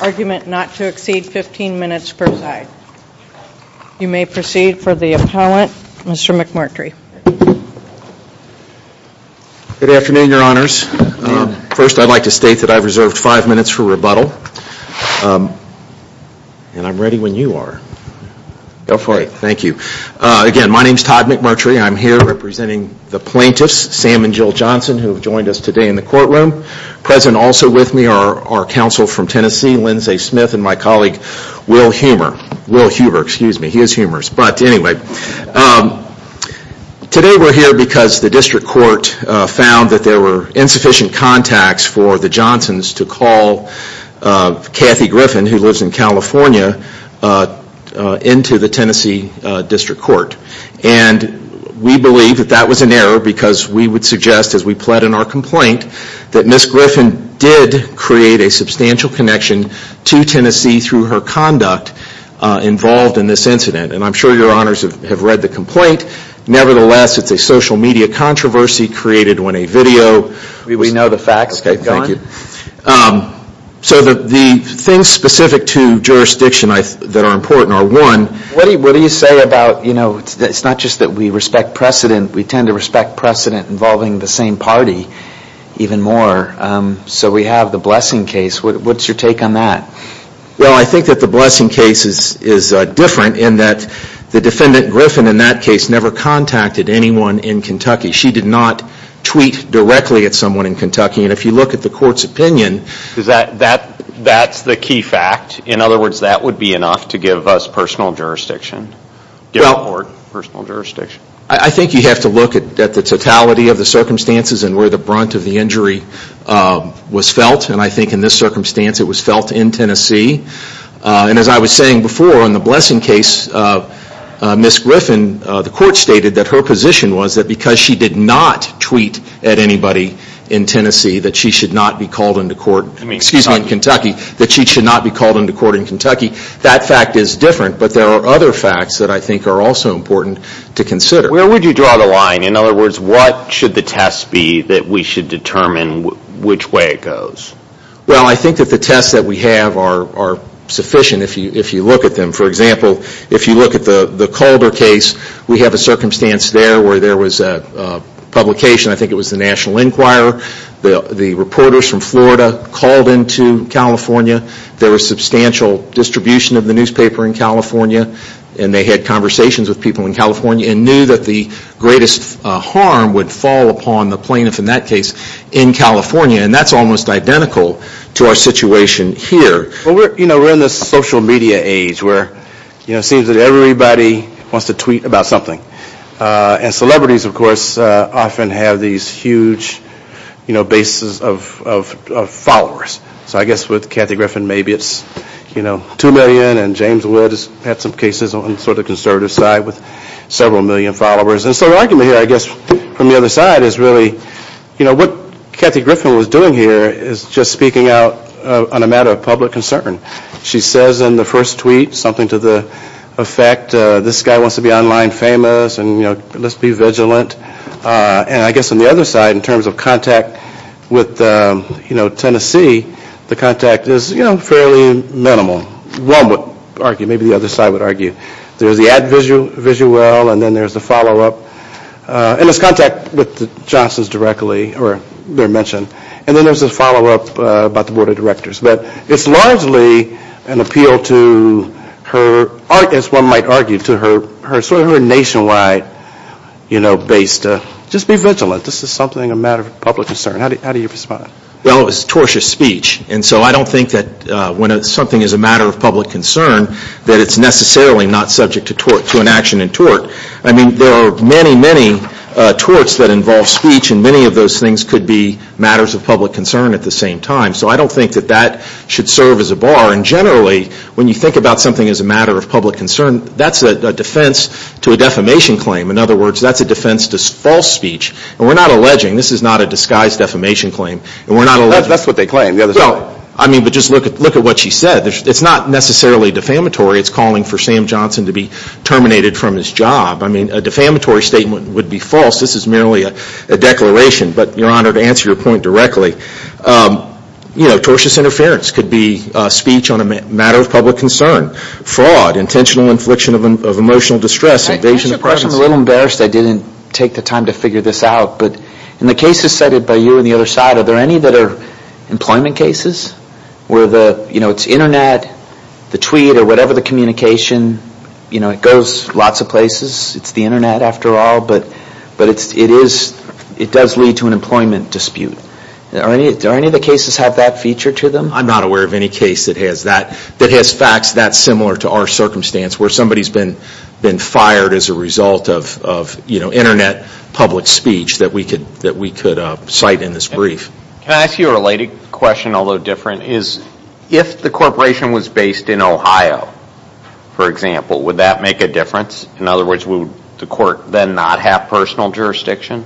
Argument not to exceed 15 minutes per side. You may proceed for the appellant. Mr. McMurtry. Good afternoon, your honors. First, I'd like to state that I've reserved five minutes for rebuttal. And I'm ready when you are. Go for it. Thank you. Again, my name is Todd McMurtry. I'm here representing the House of Representatives. And I'm here representing the House of Representatives. The plaintiffs, Sam and Jill Johnson, who have joined us today in the courtroom. Present also with me are our counsel from Tennessee, Lindsay Smith, and my colleague, Will Huber. Will Huber, excuse me. He is humorous. But anyway, today we're here because the district court found that there were insufficient contacts for the Johnsons to call Kathy Griffin, who lives in California, into the Tennessee district court. And we believe that that was an error because we would suggest, as we pled in our complaint, that Ms. Griffin did create a substantial connection to Tennessee through her conduct involved in this incident. And I'm sure your honors have read the complaint. Nevertheless, it's a social media controversy created when a video... We know the facts. So the things specific to jurisdiction that are important are, one... What do you say about, you know, it's not just that we respect precedent. We tend to respect precedent involving the same party even more. So we have the Blessing case. What's your take on that? Well, I think that the Blessing case is different in that the defendant, Griffin, in that case, never contacted anyone in Kentucky. She did not tweet directly at someone in Kentucky. And if you look at the court's opinion... That's the key fact. In other words, that would be enough to give us personal jurisdiction. Give the court personal jurisdiction. I think you have to look at the totality of the circumstances and where the brunt of the injury was felt. And I think in this circumstance, it was felt in Tennessee. And as I was saying before, in the Blessing case, Ms. Griffin, the court stated that her position was that because she did not tweet at anybody in Tennessee, that she should not be called into court. Excuse me, in Kentucky. That she should not be called into court in Kentucky. That fact is different. But there are other facts that I think are also important to consider. Where would you draw the line? In other words, what should the test be that we should determine which way it goes? Well, I think that the tests that we have are sufficient if you look at them. For example, if you look at the Calder case, we have a circumstance there where there was a publication. I think it was the National Enquirer. The reporters from Florida called into California. There was substantial distribution of the newspaper in California. And they had conversations with people in California and knew that the greatest harm would fall upon the plaintiff, in that case, in California. And that's almost identical to our situation here. Well, we're in this social media age where it seems that everybody wants to tweet about something. And celebrities, of course, often have these huge bases of followers. So I guess with Kathy Griffin, maybe it's two million. And James Woods had some cases on the sort of conservative side with several million followers. And so the argument here, I guess, from the other side is really what Kathy Griffin was doing here is just speaking out on a matter of public concern. She says in the first tweet something to the effect, this guy wants to be online famous and, you know, let's be vigilant. And I guess on the other side, in terms of contact with, you know, Tennessee, the contact is, you know, fairly minimal. One would argue, maybe the other side would argue. There's the ad visuel and then there's the follow-up. And there's contact with the Johnson's directly or their mention. And then there's the follow-up about the Board of Directors. But it's largely an appeal to her, as one might argue, to her sort of nationwide, you know, base to just be vigilant. This is something a matter of public concern. How do you respond? Well, it's tortious speech. And so I don't think that when something is a matter of public concern, that it's necessarily not subject to tort, to an action in tort. I mean, there are many, many torts that involve speech. And many of those things could be matters of public concern at the same time. So I don't think that that should serve as a bar. And generally, when you think about something as a matter of public concern, that's a defense to a defamation claim. In other words, that's a defense to false speech. And we're not alleging. This is not a disguised defamation claim. That's what they claim. I mean, but just look at what she said. It's not necessarily defamatory. It's calling for Sam Johnson to be terminated from his job. I mean, a defamatory statement would be false. This is merely a declaration. But, Your Honor, to answer your point directly, you know, tortious interference could be speech on a matter of public concern, fraud, intentional infliction of emotional distress, invasion of privacy. I'm a little embarrassed I didn't take the time to figure this out. But in the cases cited by you on the other side, are there any that are employment cases where the, you know, it's internet, the tweet, or whatever the communication, you know, it goes lots of places. It's the internet after all. But it is, it does lead to an employment dispute. Are any of the cases have that feature to them? I'm not aware of any case that has that, that has facts that similar to our circumstance where somebody's been fired as a result of, you know, internet public speech that we could cite in this brief. Can I ask you a related question, although different, is if the corporation was based in Ohio, for example, would that make a difference? In other words, would the court then not have personal jurisdiction?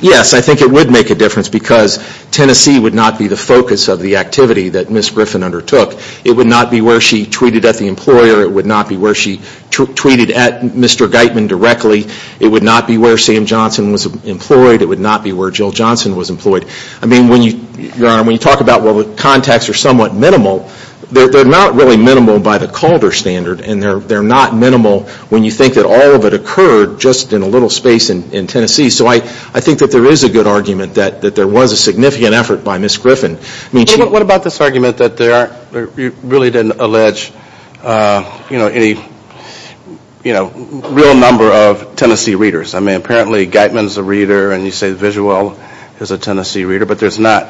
Yes, I think it would make a difference because Tennessee would not be the focus of the activity that Ms. Griffin undertook. It would not be where she tweeted at the employer. It would not be where she tweeted at Mr. Geitman directly. It would not be where Sam Johnson was employed. It would not be where Jill Johnson was employed. I mean, when you, Your Honor, when you talk about, well, the contacts are somewhat minimal, they're not really minimal by the Calder standard. And they're not minimal when you think that all of it occurred just in a little space in Tennessee. So I think that there is a good argument that there was a significant effort by Ms. Griffin. What about this argument that there really didn't allege, you know, any, you know, real number of Tennessee readers? I mean, apparently Geitman's a reader and you say Viguel is a Tennessee reader, but there's not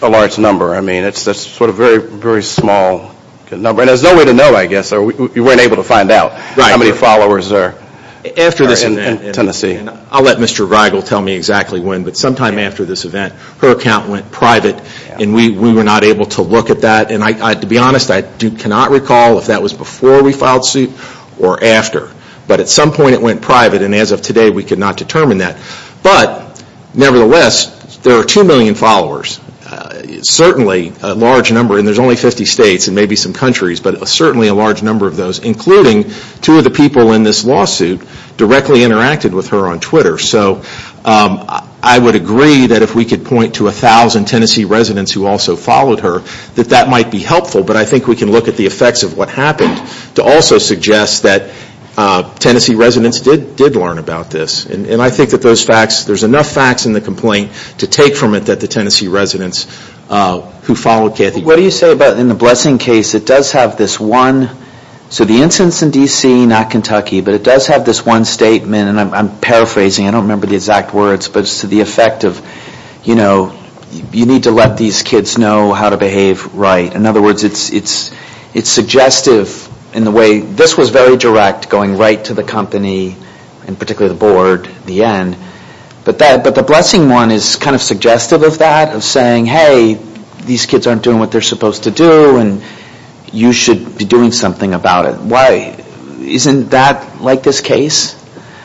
a large number. I mean, it's sort of a very, very small number. And there's no way to know, I guess. You weren't able to find out how many followers there are in Tennessee. I'll let Mr. Viguel tell me exactly when, but sometime after this event, her account went private and we were not able to look at that. And to be honest, I cannot recall if that was before we filed suit or after. But at some point it went private and as of today we could not determine that. But nevertheless, there are 2 million followers. Certainly a large number, and there's only 50 states and maybe some countries, but certainly a large number of those, including 2 of the people in this lawsuit directly interacted with her on Twitter. So I would agree that if we could point to 1,000 Tennessee residents who also followed her, that that might be helpful. But I think we can look at the effects of what happened to also suggest that Tennessee residents did learn about this. And I think that those facts, there's enough facts in the complaint to take from it that the Tennessee residents who followed Kathy. So the instance in D.C., not Kentucky, but it does have this 1 statement, and I'm paraphrasing, I don't remember the exact words, but it's to the effect of, you know, you need to let these kids know how to behave right. In other words, it's suggestive in the way, this was very direct going right to the company, and particularly the board, the end. But the blessing one is kind of suggestive of that, of saying, hey, these kids aren't doing what they're supposed to do, and you should be doing something about it. Why? Isn't that like this case?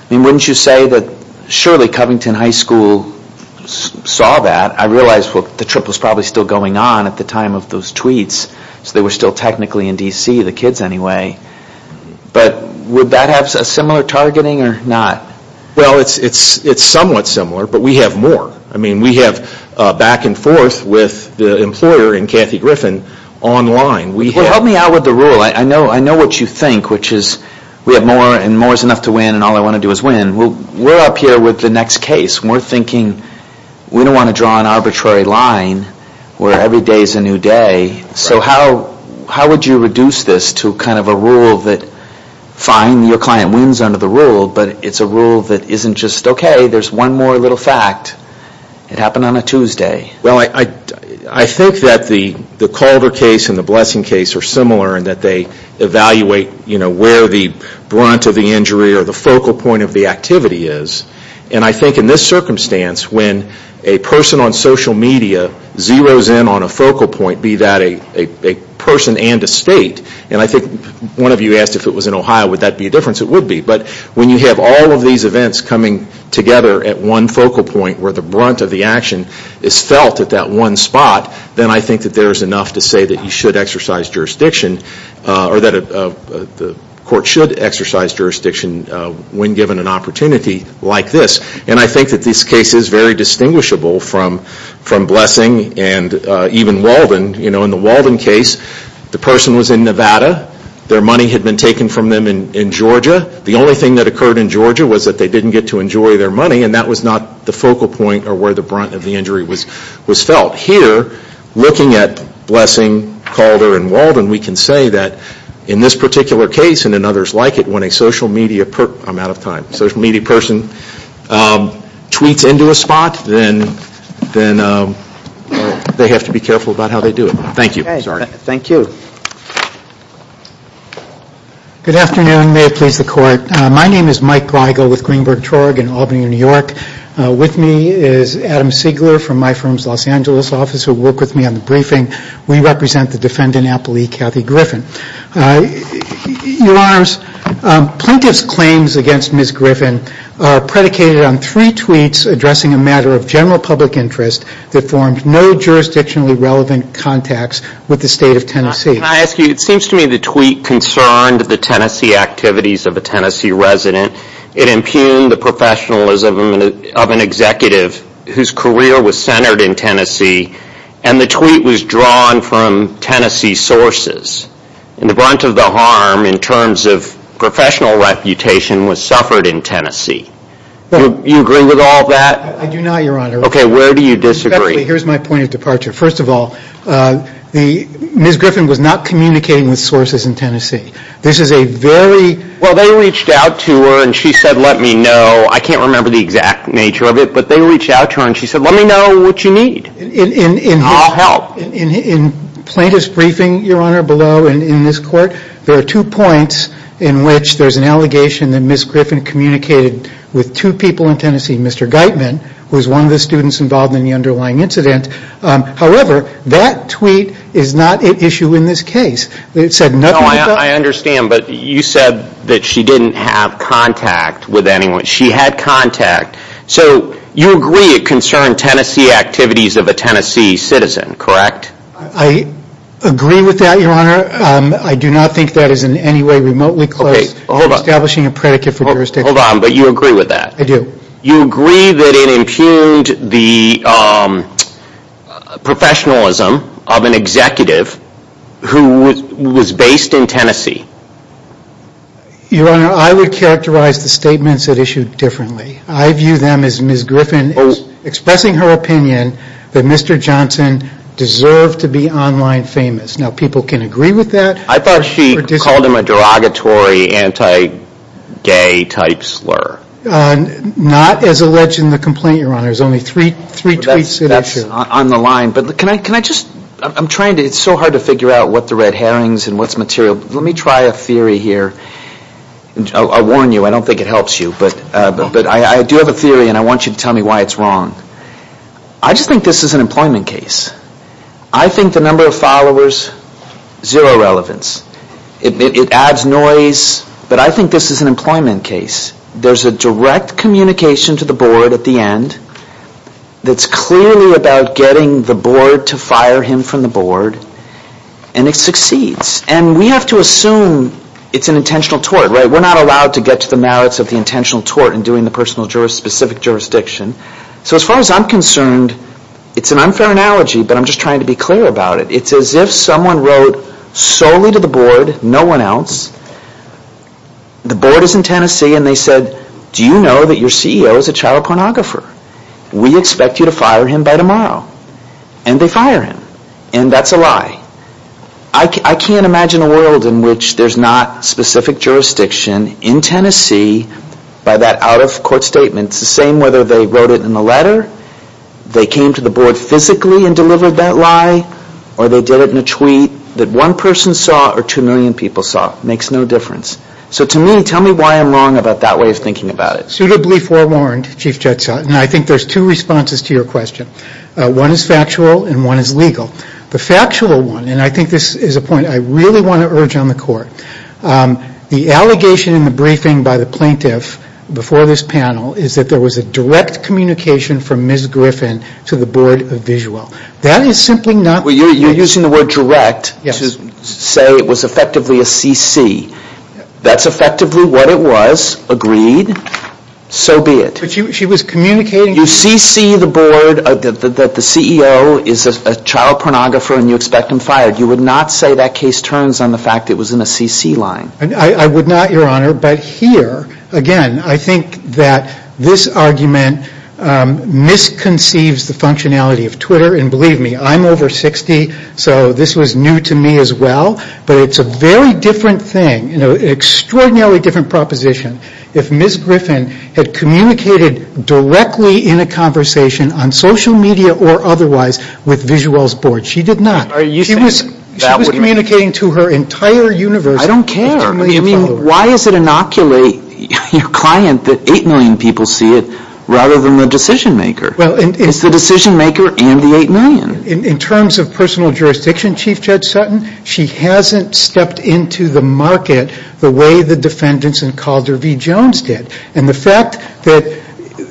I mean, wouldn't you say that surely Covington High School saw that? I realize the trip was probably still going on at the time of those tweets, so they were still technically in D.C., the kids anyway. But would that have a similar targeting or not? Well, it's somewhat similar, but we have more. I mean, we have back and forth with the employer and Kathy Griffin online. Well, help me out with the rule. I know what you think, which is we have more, and more is enough to win, and all I want to do is win. Well, we're up here with the next case, and we're thinking we don't want to draw an arbitrary line where every day is a new day. So how would you reduce this to kind of a rule that, fine, your client wins under the rule, but it's a rule that isn't just, okay, there's one more little fact. It happened on a Tuesday. Well, I think that the Calder case and the Blessing case are similar in that they don't have a rule that says what the brunt of the injury or the focal point of the activity is. And I think in this circumstance, when a person on social media zeroes in on a focal point, be that a person and a state, and I think one of you asked if it was in Ohio, would that be a difference? It would be. But when you have all of these events coming together at one focal point where the brunt of the action is felt at that one spot, then I think that there's enough to say that you should exercise jurisdiction, or that the court should exercise jurisdiction when given an opportunity like this. And I think that this case is very distinguishable from Blessing and even Walden. In the Walden case, the person was in Nevada. Their money had been taken from them in Georgia. The only thing that occurred in Georgia was that they didn't get to enjoy their money, and that was not the focal point or where the brunt of the injury was felt. Here, looking at Blessing, Calder, and Walden, we can say that in this particular case and in others like it, when a social media person, I'm out of time, social media person tweets into a spot, then they have to be careful about how they do it. Thank you. Good afternoon. May it please the Court. My name is Mike Greigel with Greenberg Torg in Albany, New York. With me is Adam Siegler from my firm's Los Angeles office, who will work with me on the briefing. We represent the defendant, Apple E. Cathy Griffin. Your Honors, Plaintiff's claims against Ms. Griffin are predicated on three tweets addressing a matter of general public interest that formed no jurisdictionally relevant contacts with the State of Tennessee. Can I ask you, it seems to me the tweet concerned the Tennessee activities of a Tennessee resident. It impugned the professionalism of an executive whose career was centered in Tennessee, and the tweet was drawn from Tennessee sources. In the brunt of the harm in terms of professional reputation was suffered in Tennessee. Do you agree with all that? I do not, Your Honor. Okay, where do you disagree? Here's my point of departure. First of all, Ms. Griffin was not communicating with sources in Tennessee. This is a very... Well, they reached out to her and she said, let me know. I can't remember the exact nature of it, but they reached out to her and she said, let me know what you need. I'll help. In Plaintiff's briefing, Your Honor, below in this court, there are two points in which there's an allegation that Ms. Griffin communicated with two people in Tennessee, Mr. Geitman, who is one of the students involved in the underlying incident. However, that tweet is not at issue in this case. I understand, but you said that she didn't have contact with anyone. She had contact. So you agree it concerned Tennessee activities of a Tennessee citizen, correct? I agree with that, Your Honor. I do not think that is in any way remotely close to establishing a predicate for jurisdiction. Hold on, but you agree with that? I do. You agree that it impugned the professionalism of an executive who was based in Tennessee? Your Honor, I would characterize the statements at issue differently. I view them as Ms. Griffin expressing her opinion that Mr. Johnson deserved to be online famous. Now, people can agree with that. I thought she called him a derogatory, anti-gay type slur. Not as alleged in the complaint, Your Honor. There's only three tweets that are true. That's on the line, but can I just, I'm trying to, it's so hard to figure out what the red herrings and what's material. Let me try a theory here. I'll warn you, I don't think it helps you, but I do have a theory and I want you to tell me why it's wrong. I just think this is an employment case. I think the number of followers, zero relevance. It adds noise, but I think this is an employment case. There's a direct communication to the board at the end that's clearly about getting the board to fire him from the board, and it succeeds. And we have to assume it's an intentional tort, right? We're not allowed to get to the merits of the intentional tort in doing the specific jurisdiction. So as far as I'm concerned, it's an unfair analogy, but I'm just trying to be clear about it. It's as if someone wrote solely to the board, no one else. The board is in Tennessee and they said, do you know that your CEO is a child pornographer? We expect you to fire him by tomorrow. And they fire him. And that's a lie. I can't imagine a world in which there's not specific jurisdiction in Tennessee by that out-of-court statement. It's the same whether they wrote it in a letter, they came to the board physically and delivered that lie, or they did it in a tweet that one person saw or two million people saw. It makes no difference. So to me, tell me why I'm wrong about that way of thinking about it. Suitably forewarned, Chief Judge Sutton. I think there's two responses to your question. One is factual and one is legal. The factual one, and I think this is a point I really want to urge on the Court, the allegation in the briefing by the plaintiff before this panel is that there was a direct communication from Ms. Griffin to the Board of Visual. That is simply not... You're using the word direct to say it was effectively a CC. That's effectively what it was, agreed. So be it. You CC the board that the CEO is a child pornographer and you expect him fired. You would not say that case turns on the fact that it was in a CC line. I would not, Your Honor, but here, again, I think that this argument misconceives the functionality of Twitter and believe me, I'm over 60, so this was new to me as well, but it's a very different thing, an extraordinarily different proposition if Ms. Griffin had communicated directly in a conversation on social media or otherwise with Visual's board. She did not. She was communicating to her entire universe... I don't care. I mean, why does it inoculate your client that 8 million people see it rather than the decision maker? It's the decision maker and the 8 million. In terms of personal jurisdiction, Chief Judge Sutton, she hasn't stepped into the market the way the defendants in Calder v. Jones did, and the fact that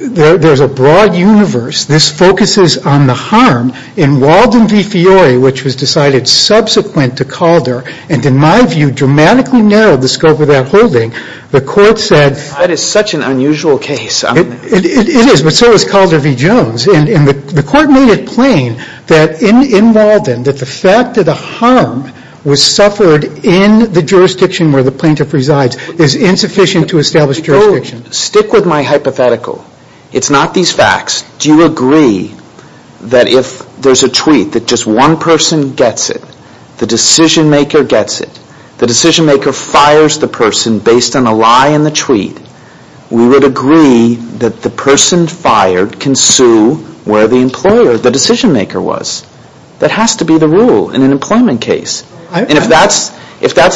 there's a broad universe, this focuses on the harm in Walden v. Jones, and the fact that there's a broad universe in Walden and that the defendant has decided subsequent to Calder, and in my view, dramatically narrowed the scope of that holding... That is such an unusual case. It is, but so is Calder v. Jones, and the court made it plain that in Walden, that the fact that the harm was suffered in the jurisdiction where the plaintiff resides is insufficient to establish jurisdiction. Stick with my hypothetical. It's not these facts. Do you agree that if there's a tweet that just one person gets it, the decision-maker gets it, the decision-maker fires the person based on a lie in the tweet, we would agree that the person fired can sue where the employer, the decision-maker, was? That has to be the rule in an employment case. And if that's,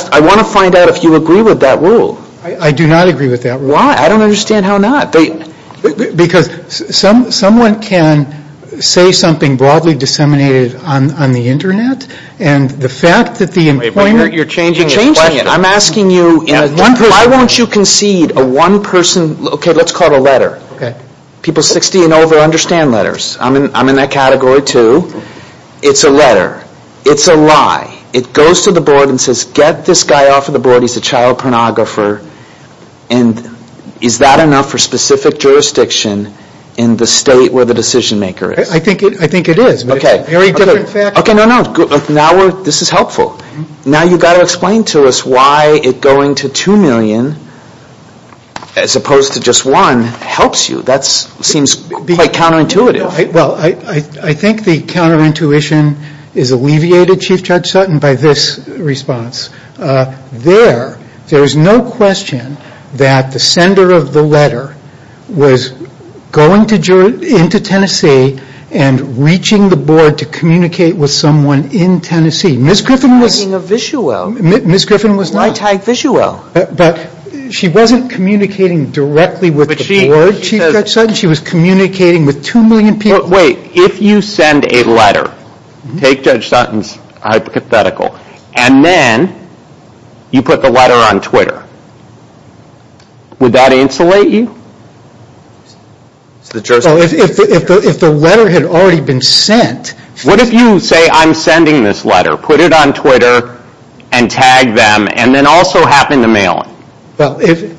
I want to find out if you agree with that rule. I do not agree with that rule. Why? I don't understand how not. Because someone can say something broadly disseminated on the Internet, and the fact that the employer... You're changing the question. I'm asking you, why won't you concede a one-person... Let's call it a letter. People 60 and over understand letters. I'm in that category, too. It's a letter. It's a lie. It goes to the board and says, get this guy off the board. He's a child pornographer. Is that enough for specific jurisdiction in the state where the decision-maker is? I think it is. Now you've got to explain to us why it going to 2 million, as opposed to just one, helps you. That seems quite counterintuitive. I think the counterintuition is alleviated, Chief Judge Sutton, by this response. There is no question that the sender of the letter was going into Tennessee and reaching the board to communicate with someone in Tennessee. Miss Griffin was not. She wasn't communicating directly with the board, Chief Judge Sutton. She was communicating with 2 million people. Wait, if you send a letter, take Judge Sutton's hypothetical, and then you put the letter on Twitter, would that insulate you? If the letter had already been sent... What if you say, I'm sending this letter, put it on Twitter, and tag them, and then also happen to mail it?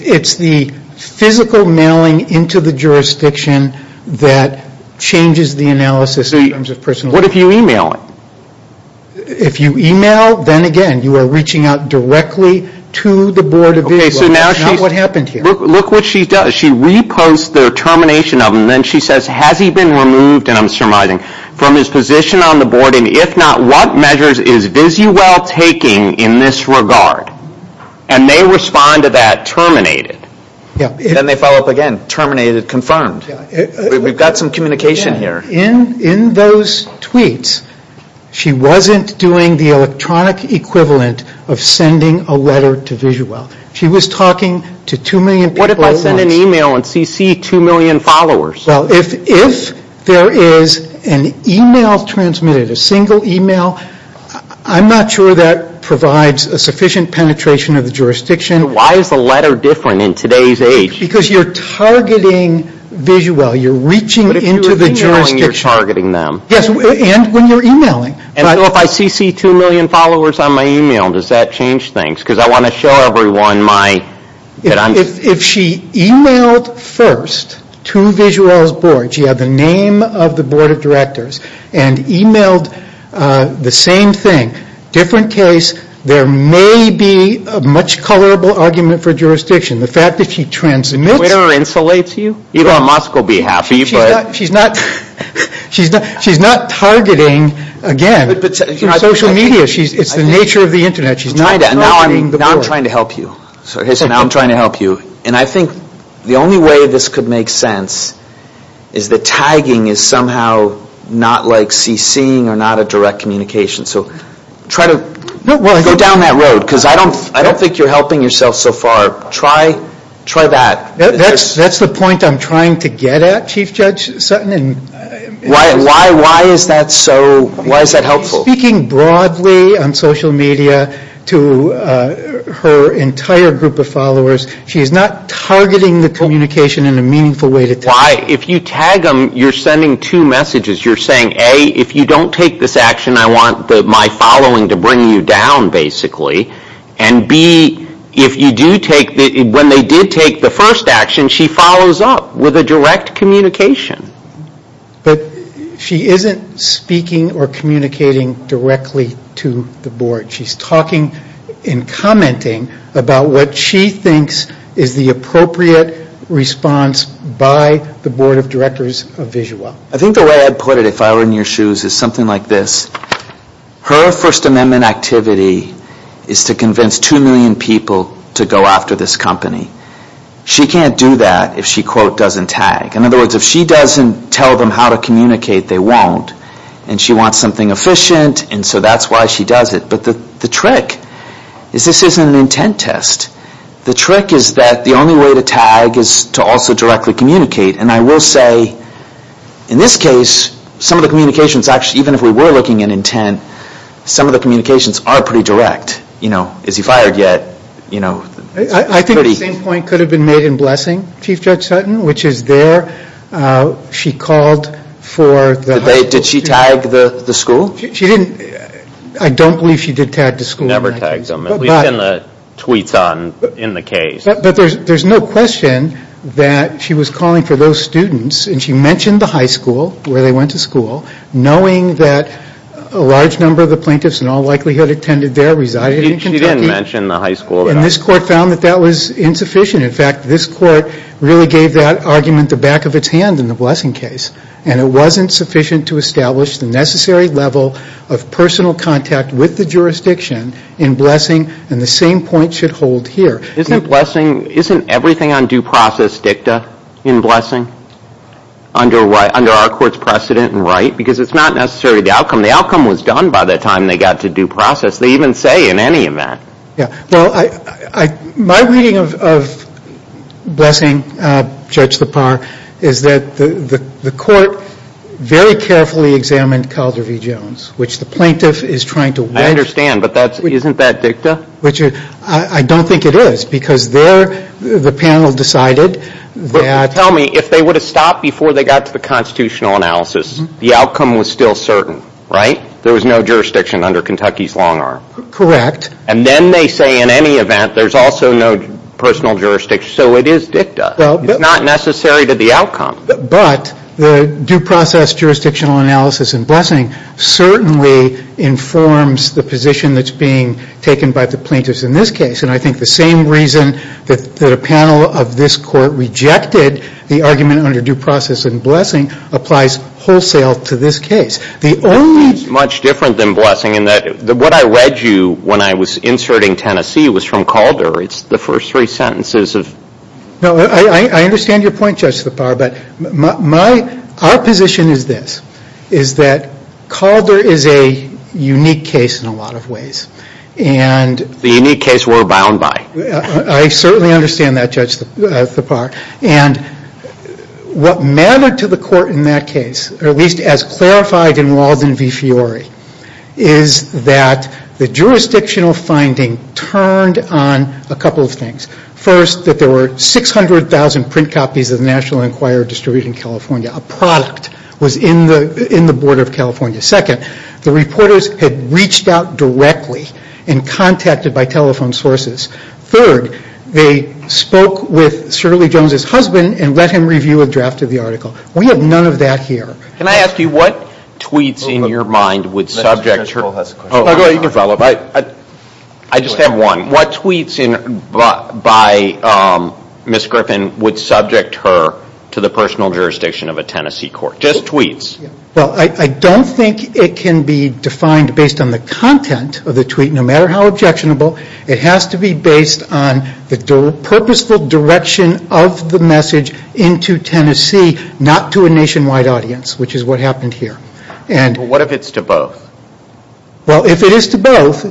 It's the physical mailing into the jurisdiction that changes the analysis in terms of personal information. What if you e-mail it? If you e-mail, then again, you are reaching out directly to the board of Visuel. Look what she does. She reposts the termination of it, and then she says, has he been removed, and I'm surmising, from his position on the board, and if not, what measures is Visuel taking in this regard? And they respond to that, terminated. Then they follow up again, terminated, confirmed. We've got some communication here. In those tweets, she wasn't doing the electronic equivalent of sending a letter to Visuel. She was talking to 2 million people at once. What if I send an e-mail and CC 2 million followers? Well, if there is an e-mail transmitted, a single e-mail, I'm not sure that provides a sufficient penetration of the jurisdiction. Why is the letter different in today's age? Because you're targeting Visuel. You're reaching into the jurisdiction. And when you're e-mailing. And so if I CC 2 million followers on my e-mail, does that change things? Because I want to show everyone my... If she e-mailed first to Visuel's board, she had the name of the board of directors, and e-mailed the same thing, different case, there may be a much colorable argument for jurisdiction. The fact that she transmits... She's not targeting, again, social media. It's the nature of the Internet. Now I'm trying to help you. And I think the only way this could make sense is that tagging is somehow not like CCing or not a direct communication. So try to go down that road. Because I don't think you're helping yourself so far. Try that. That's the point I'm trying to get at, Chief Judge Sutton. Why is that helpful? She's speaking broadly on social media to her entire group of followers. She's not targeting the communication in a meaningful way. If you tag them, you're sending two messages. You're saying, A, if you don't take this action, I want my following to bring you down, basically. And B, if you do take... When they did take the first action, she follows up with a direct communication. But she isn't speaking or communicating directly to the board. She's talking and commenting about what she thinks is the appropriate response by the board of directors of Visual. I think the way I'd put it, if I were in your shoes, is something like this. Her First Amendment activity is to convince two million people to go after this company. She can't do that if she, quote, doesn't tag. In other words, if she doesn't tell them how to communicate, they won't. And she wants something efficient, and so that's why she does it. But the trick is this isn't an intent test. The trick is that the only way to tag is to also directly communicate. And I will say, in this case, some of the communications, even if we were looking at intent, some of the communications are pretty direct. Is he fired yet? I think the same point could have been made in Blessing, Chief Judge Sutton, which is there she called for... Did she tag the school? She didn't. I don't believe she did tag the school. Never tags them, at least in the tweets in the case. But there's no question that she was calling for those students. And she mentioned the high school where they went to school, knowing that a large number of the plaintiffs in all likelihood attended there, resided in Kentucky. And this court found that that was insufficient. In fact, this court really gave that argument the back of its hand in the Blessing case. And it wasn't sufficient to establish the necessary level of personal contact with the jurisdiction in Blessing, and the same point should hold here. Isn't Blessing, isn't everything on due process dicta in Blessing? Under our court's precedent and right? Because it's not necessarily the outcome. The outcome was done by the time they got to due process. They even say in any event. My reading of Blessing, Judge Lepar, is that the court very carefully examined Calder v. Jones, which the plaintiff is trying to... I understand, but isn't that dicta? I don't think it is, because the panel decided that... Tell me, if they would have stopped before they got to the constitutional analysis, the outcome was still certain, right? There was no jurisdiction under Kentucky's long arm. Correct. And then they say in any event, there's also no personal jurisdiction. So it is dicta. It's not necessary to the outcome. But the due process jurisdictional analysis in Blessing certainly informs the position that's being taken by the plaintiffs in this case. And I think the same reason that a panel of this court rejected the argument under due process in Blessing applies wholesale to this case. The only... It's much different than Blessing in that what I read you when I was inserting Tennessee was from Calder. It's the first three sentences of... No, I understand your point, Judge Lepar, but our position is this. Is that Calder is a unique case in a lot of ways. The unique case we're bound by. I certainly understand that, Judge Lepar. And what mattered to the court in that case, or at least as clarified in Walden v. Fiore, is that the jurisdictional finding turned on a couple of things. First, that there were 600,000 print copies of the National Enquirer distributed in California. A product was in the border of California. Second, the reporters had reached out directly and contacted by telephone sources. Third, they spoke with Shirley Jones's husband and let him review a draft of the article. We have none of that here. Can I ask you what tweets in your mind would subject her... I just have one. What tweets by Ms. Griffin would subject her to the personal jurisdiction of a Tennessee court? Just tweets. Well, I don't think it can be defined based on the content of the tweet, no matter how objectionable. It has to be based on the purposeful direction of the message into Tennessee, not to a nationwide audience, which is what happened here. What if it's to both? Well, if it is to both,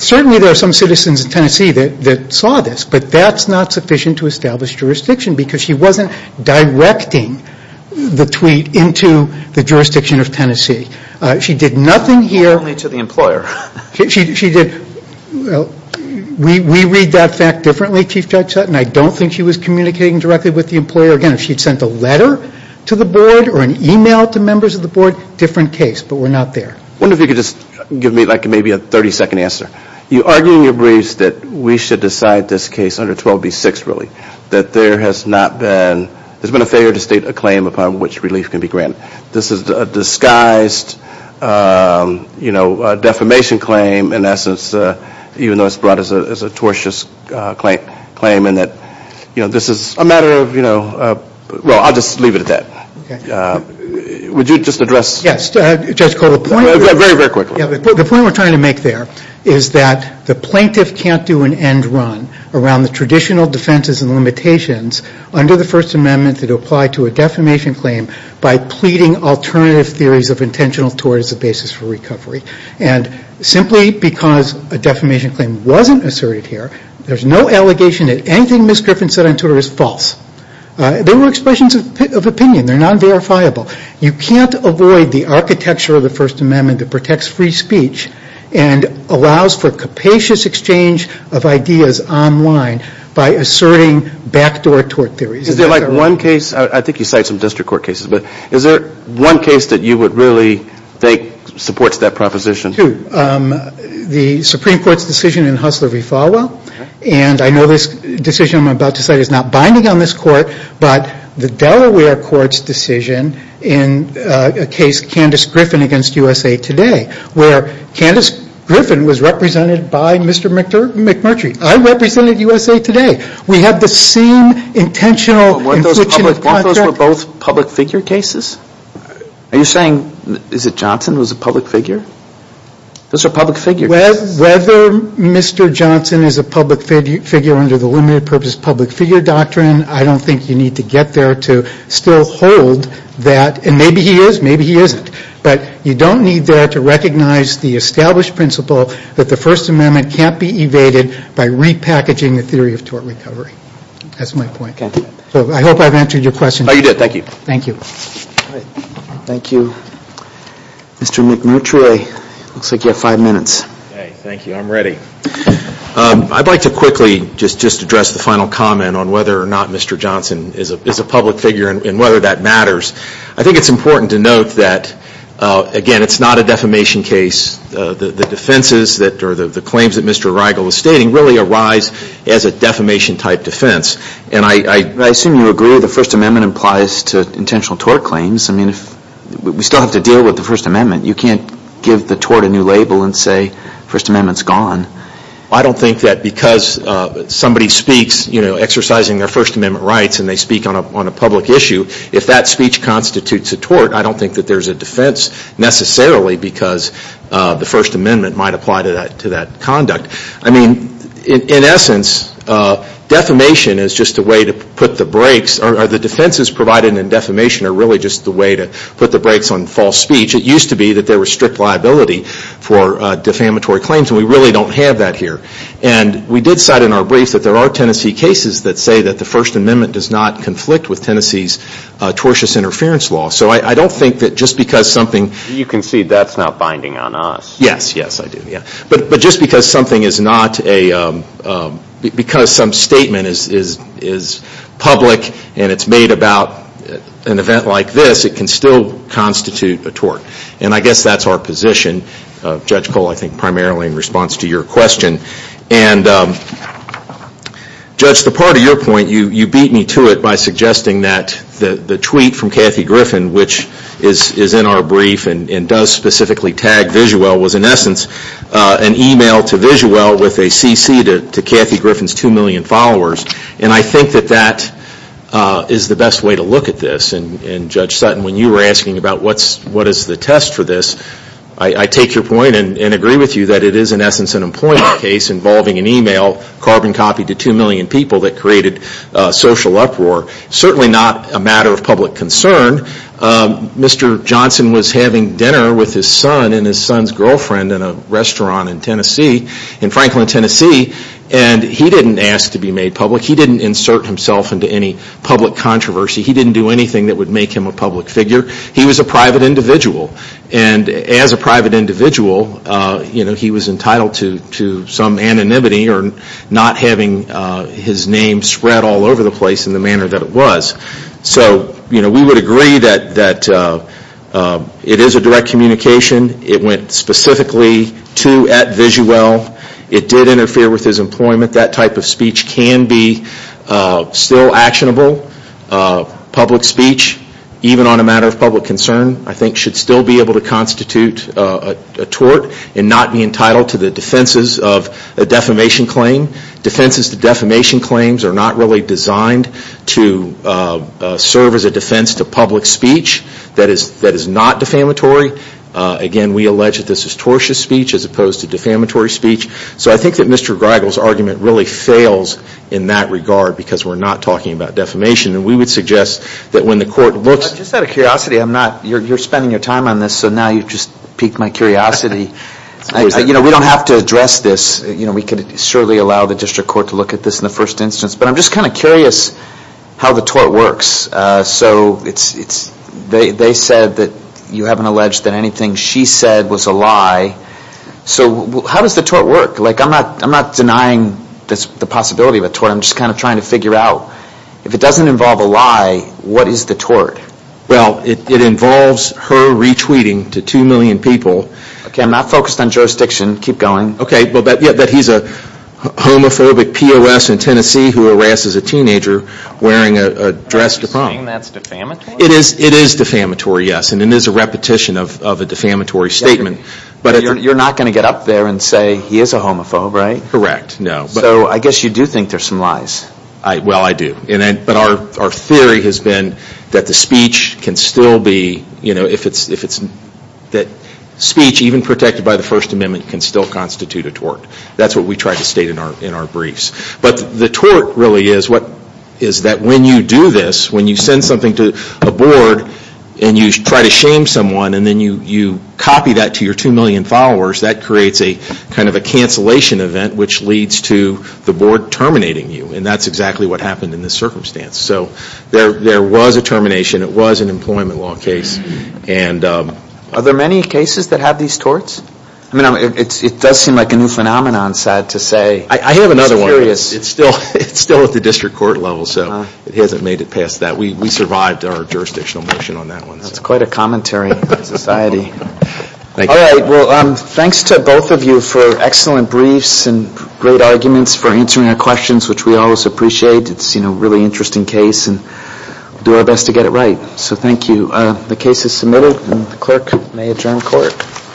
certainly there are some citizens in Tennessee that saw this, but that's not sufficient to establish jurisdiction because she wasn't directing the tweet into the jurisdiction of Tennessee. She did nothing here... Only to the employer. Well, we read that fact differently, Chief Judge Sutton. I don't think she was communicating directly with the employer. Again, if she had sent a letter to the board or an email to members of the board, different case, but we're not there. I wonder if you could just give me like maybe a 30 second answer. You argue in your briefs that we should decide this case under 12B6 really, that there has not been, there's been a failure to state a claim upon which relief can be granted. This is a disguised defamation claim in essence, even though it's brought as a tortious claim in that this is a matter of, well, I'll just leave it at that. Would you just address... Yes, Judge Cole, the point we're trying to make there is that the plaintiff can't do an end run around the traditional defenses and limitations under the First Amendment that apply to a defamation claim by pleading alternative theories of intentional tort as a basis for recovery. And simply because a defamation claim wasn't asserted here, there's no allegation that anything Ms. Griffin said on tort is false. They were expressions of opinion. They're non-verifiable. You can't avoid the architecture of the First Amendment that protects free speech and allows for capacious exchange of ideas online by asserting backdoor tort theories. Is there like one case, I think you cite some district court cases, but is there one case that you would really think supports that proposition? Two. The Supreme Court's decision in Hustler v. Falwell, and I know this decision I'm about to make in a case, Candace Griffin v. USA Today, where Candace Griffin was represented by Mr. McMurtry. I represented USA Today. We have the same intentional... Weren't those both public figure cases? Are you saying, is it Johnson who was a public figure? Those are public figure cases. Whether Mr. Johnson is a public figure under the limited purpose public figure doctrine, I don't think you need to get there to still hold that. And maybe he is, maybe he isn't. But you don't need there to recognize the established principle that the First Amendment can't be evaded by repackaging the theory of tort recovery. That's my point. So I hope I've answered your question. Thank you. Thank you, Mr. McMurtry. Looks like you have five minutes. Thank you. I'm ready. I'd like to quickly just address the final comment on whether or not Mr. Johnson is a public figure and whether that matters. I think it's important to note that, again, it's not a defamation case. The claims that Mr. Reigel was stating really arise as a defamation type defense. I assume you agree the First Amendment applies to intentional tort claims. We still have to deal with the First Amendment. You can't give the tort a new label and say First Amendment's gone. I don't think that because somebody speaks exercising their First Amendment rights and they speak on a public issue, if that speech constitutes a tort, I don't think that there's a defense necessarily because the First Amendment might apply to that conduct. I mean, in essence, defamation is just a way to put the brakes or the defenses provided in defamation are really just the way to put the brakes on false speech. It used to be that there was strict liability for defamatory claims, and we really don't have that here. And we did cite in our briefs that there are Tennessee cases that say that the First Amendment does not conflict with Tennessee's tortious interference law. So I don't think that just because something you can see that's not binding on us. But just because something is not a, because some statement is public and it's made about an event like this, it can still constitute a tort. And I guess that's our position. Judge Cole, I think primarily in response to your question. And Judge, the part of your point, you beat me to it by the tweet from Kathy Griffin, which is in our brief and does specifically tag Visuel, was in essence an email to Visuel with a cc to Kathy Griffin's 2 million followers. And I think that that is the best way to look at this. And Judge Sutton, when you were asking about what is the test for this, I take your point and agree with you that it is in essence an employment case involving an email carbon copy to 2 million people that created social uproar. Certainly not a matter of public concern. Mr. Johnson was having dinner with his son and his son's girlfriend in a restaurant in Tennessee, in Franklin, Tennessee. And he didn't ask to be made public. He didn't insert himself into any public controversy. He didn't do anything that would make him a public figure. He was a private individual. And as a private individual, he was entitled to some anonymity or not having his name spread all over the place in the manner that it was. So we would agree that it is a direct communication. It went specifically to at Visuel. It did interfere with his employment. That type of speech can be still actionable. Public speech, even on a matter of public concern, I think should still be able to constitute a tort and not be entitled to the defenses of a defamation claim. Defenses to defamation claims are not really designed to serve as a defense to public speech that is not defamatory. Again, we allege that this is tortious speech as opposed to defamatory speech. So I think that Mr. Greigel's argument really fails in that regard because we're not talking about defamation. And we would suggest that when the court looks... I'm just out of curiosity. You're spending your time on this, so now you've just piqued my curiosity. We don't have to address this. We could surely allow the district court to look at this in the first instance. But I'm just kind of curious how the tort works. So they said that you haven't alleged that anything she said was a lie. So how does the tort work? I'm not denying the possibility of a tort. I'm just kind of trying to figure out if it doesn't involve a lie, what is the tort? Well, it involves her retweeting to 2 million people. Okay, I'm not focused on jurisdiction. Keep going. Okay, but he's a homophobic POS in Tennessee who harasses a teenager wearing a dress to prom. Are you saying that's defamatory? It is defamatory, yes. And it is a repetition of a defamatory statement. But you're not going to get up there and say, he is a homophobe, right? Correct, no. So I guess you do think there's some lies. Well, I do. But our theory has been that the speech can still be... that speech, even protected by the First Amendment, can still constitute a tort. That's what we try to state in our briefs. But the tort really is that when you do this, when you send something to a board and you try to shame someone and then you copy that to your 2 million followers, that creates a kind of a cancellation event which leads to the board terminating you. And that's exactly what happened in this circumstance. So there was a termination. It was an employment law case. Are there many cases that have these torts? It does seem like a new phenomenon, sad to say. I have another one. It's still at the district court level. So it hasn't made it past that. We survived our jurisdictional motion on that one. That's quite a commentary on society. Thanks to both of you for excellent briefs and great arguments for answering our questions, which we always appreciate. It's a really interesting case and we'll do our best to get it right. So thank you. The case is submitted and the clerk may adjourn court.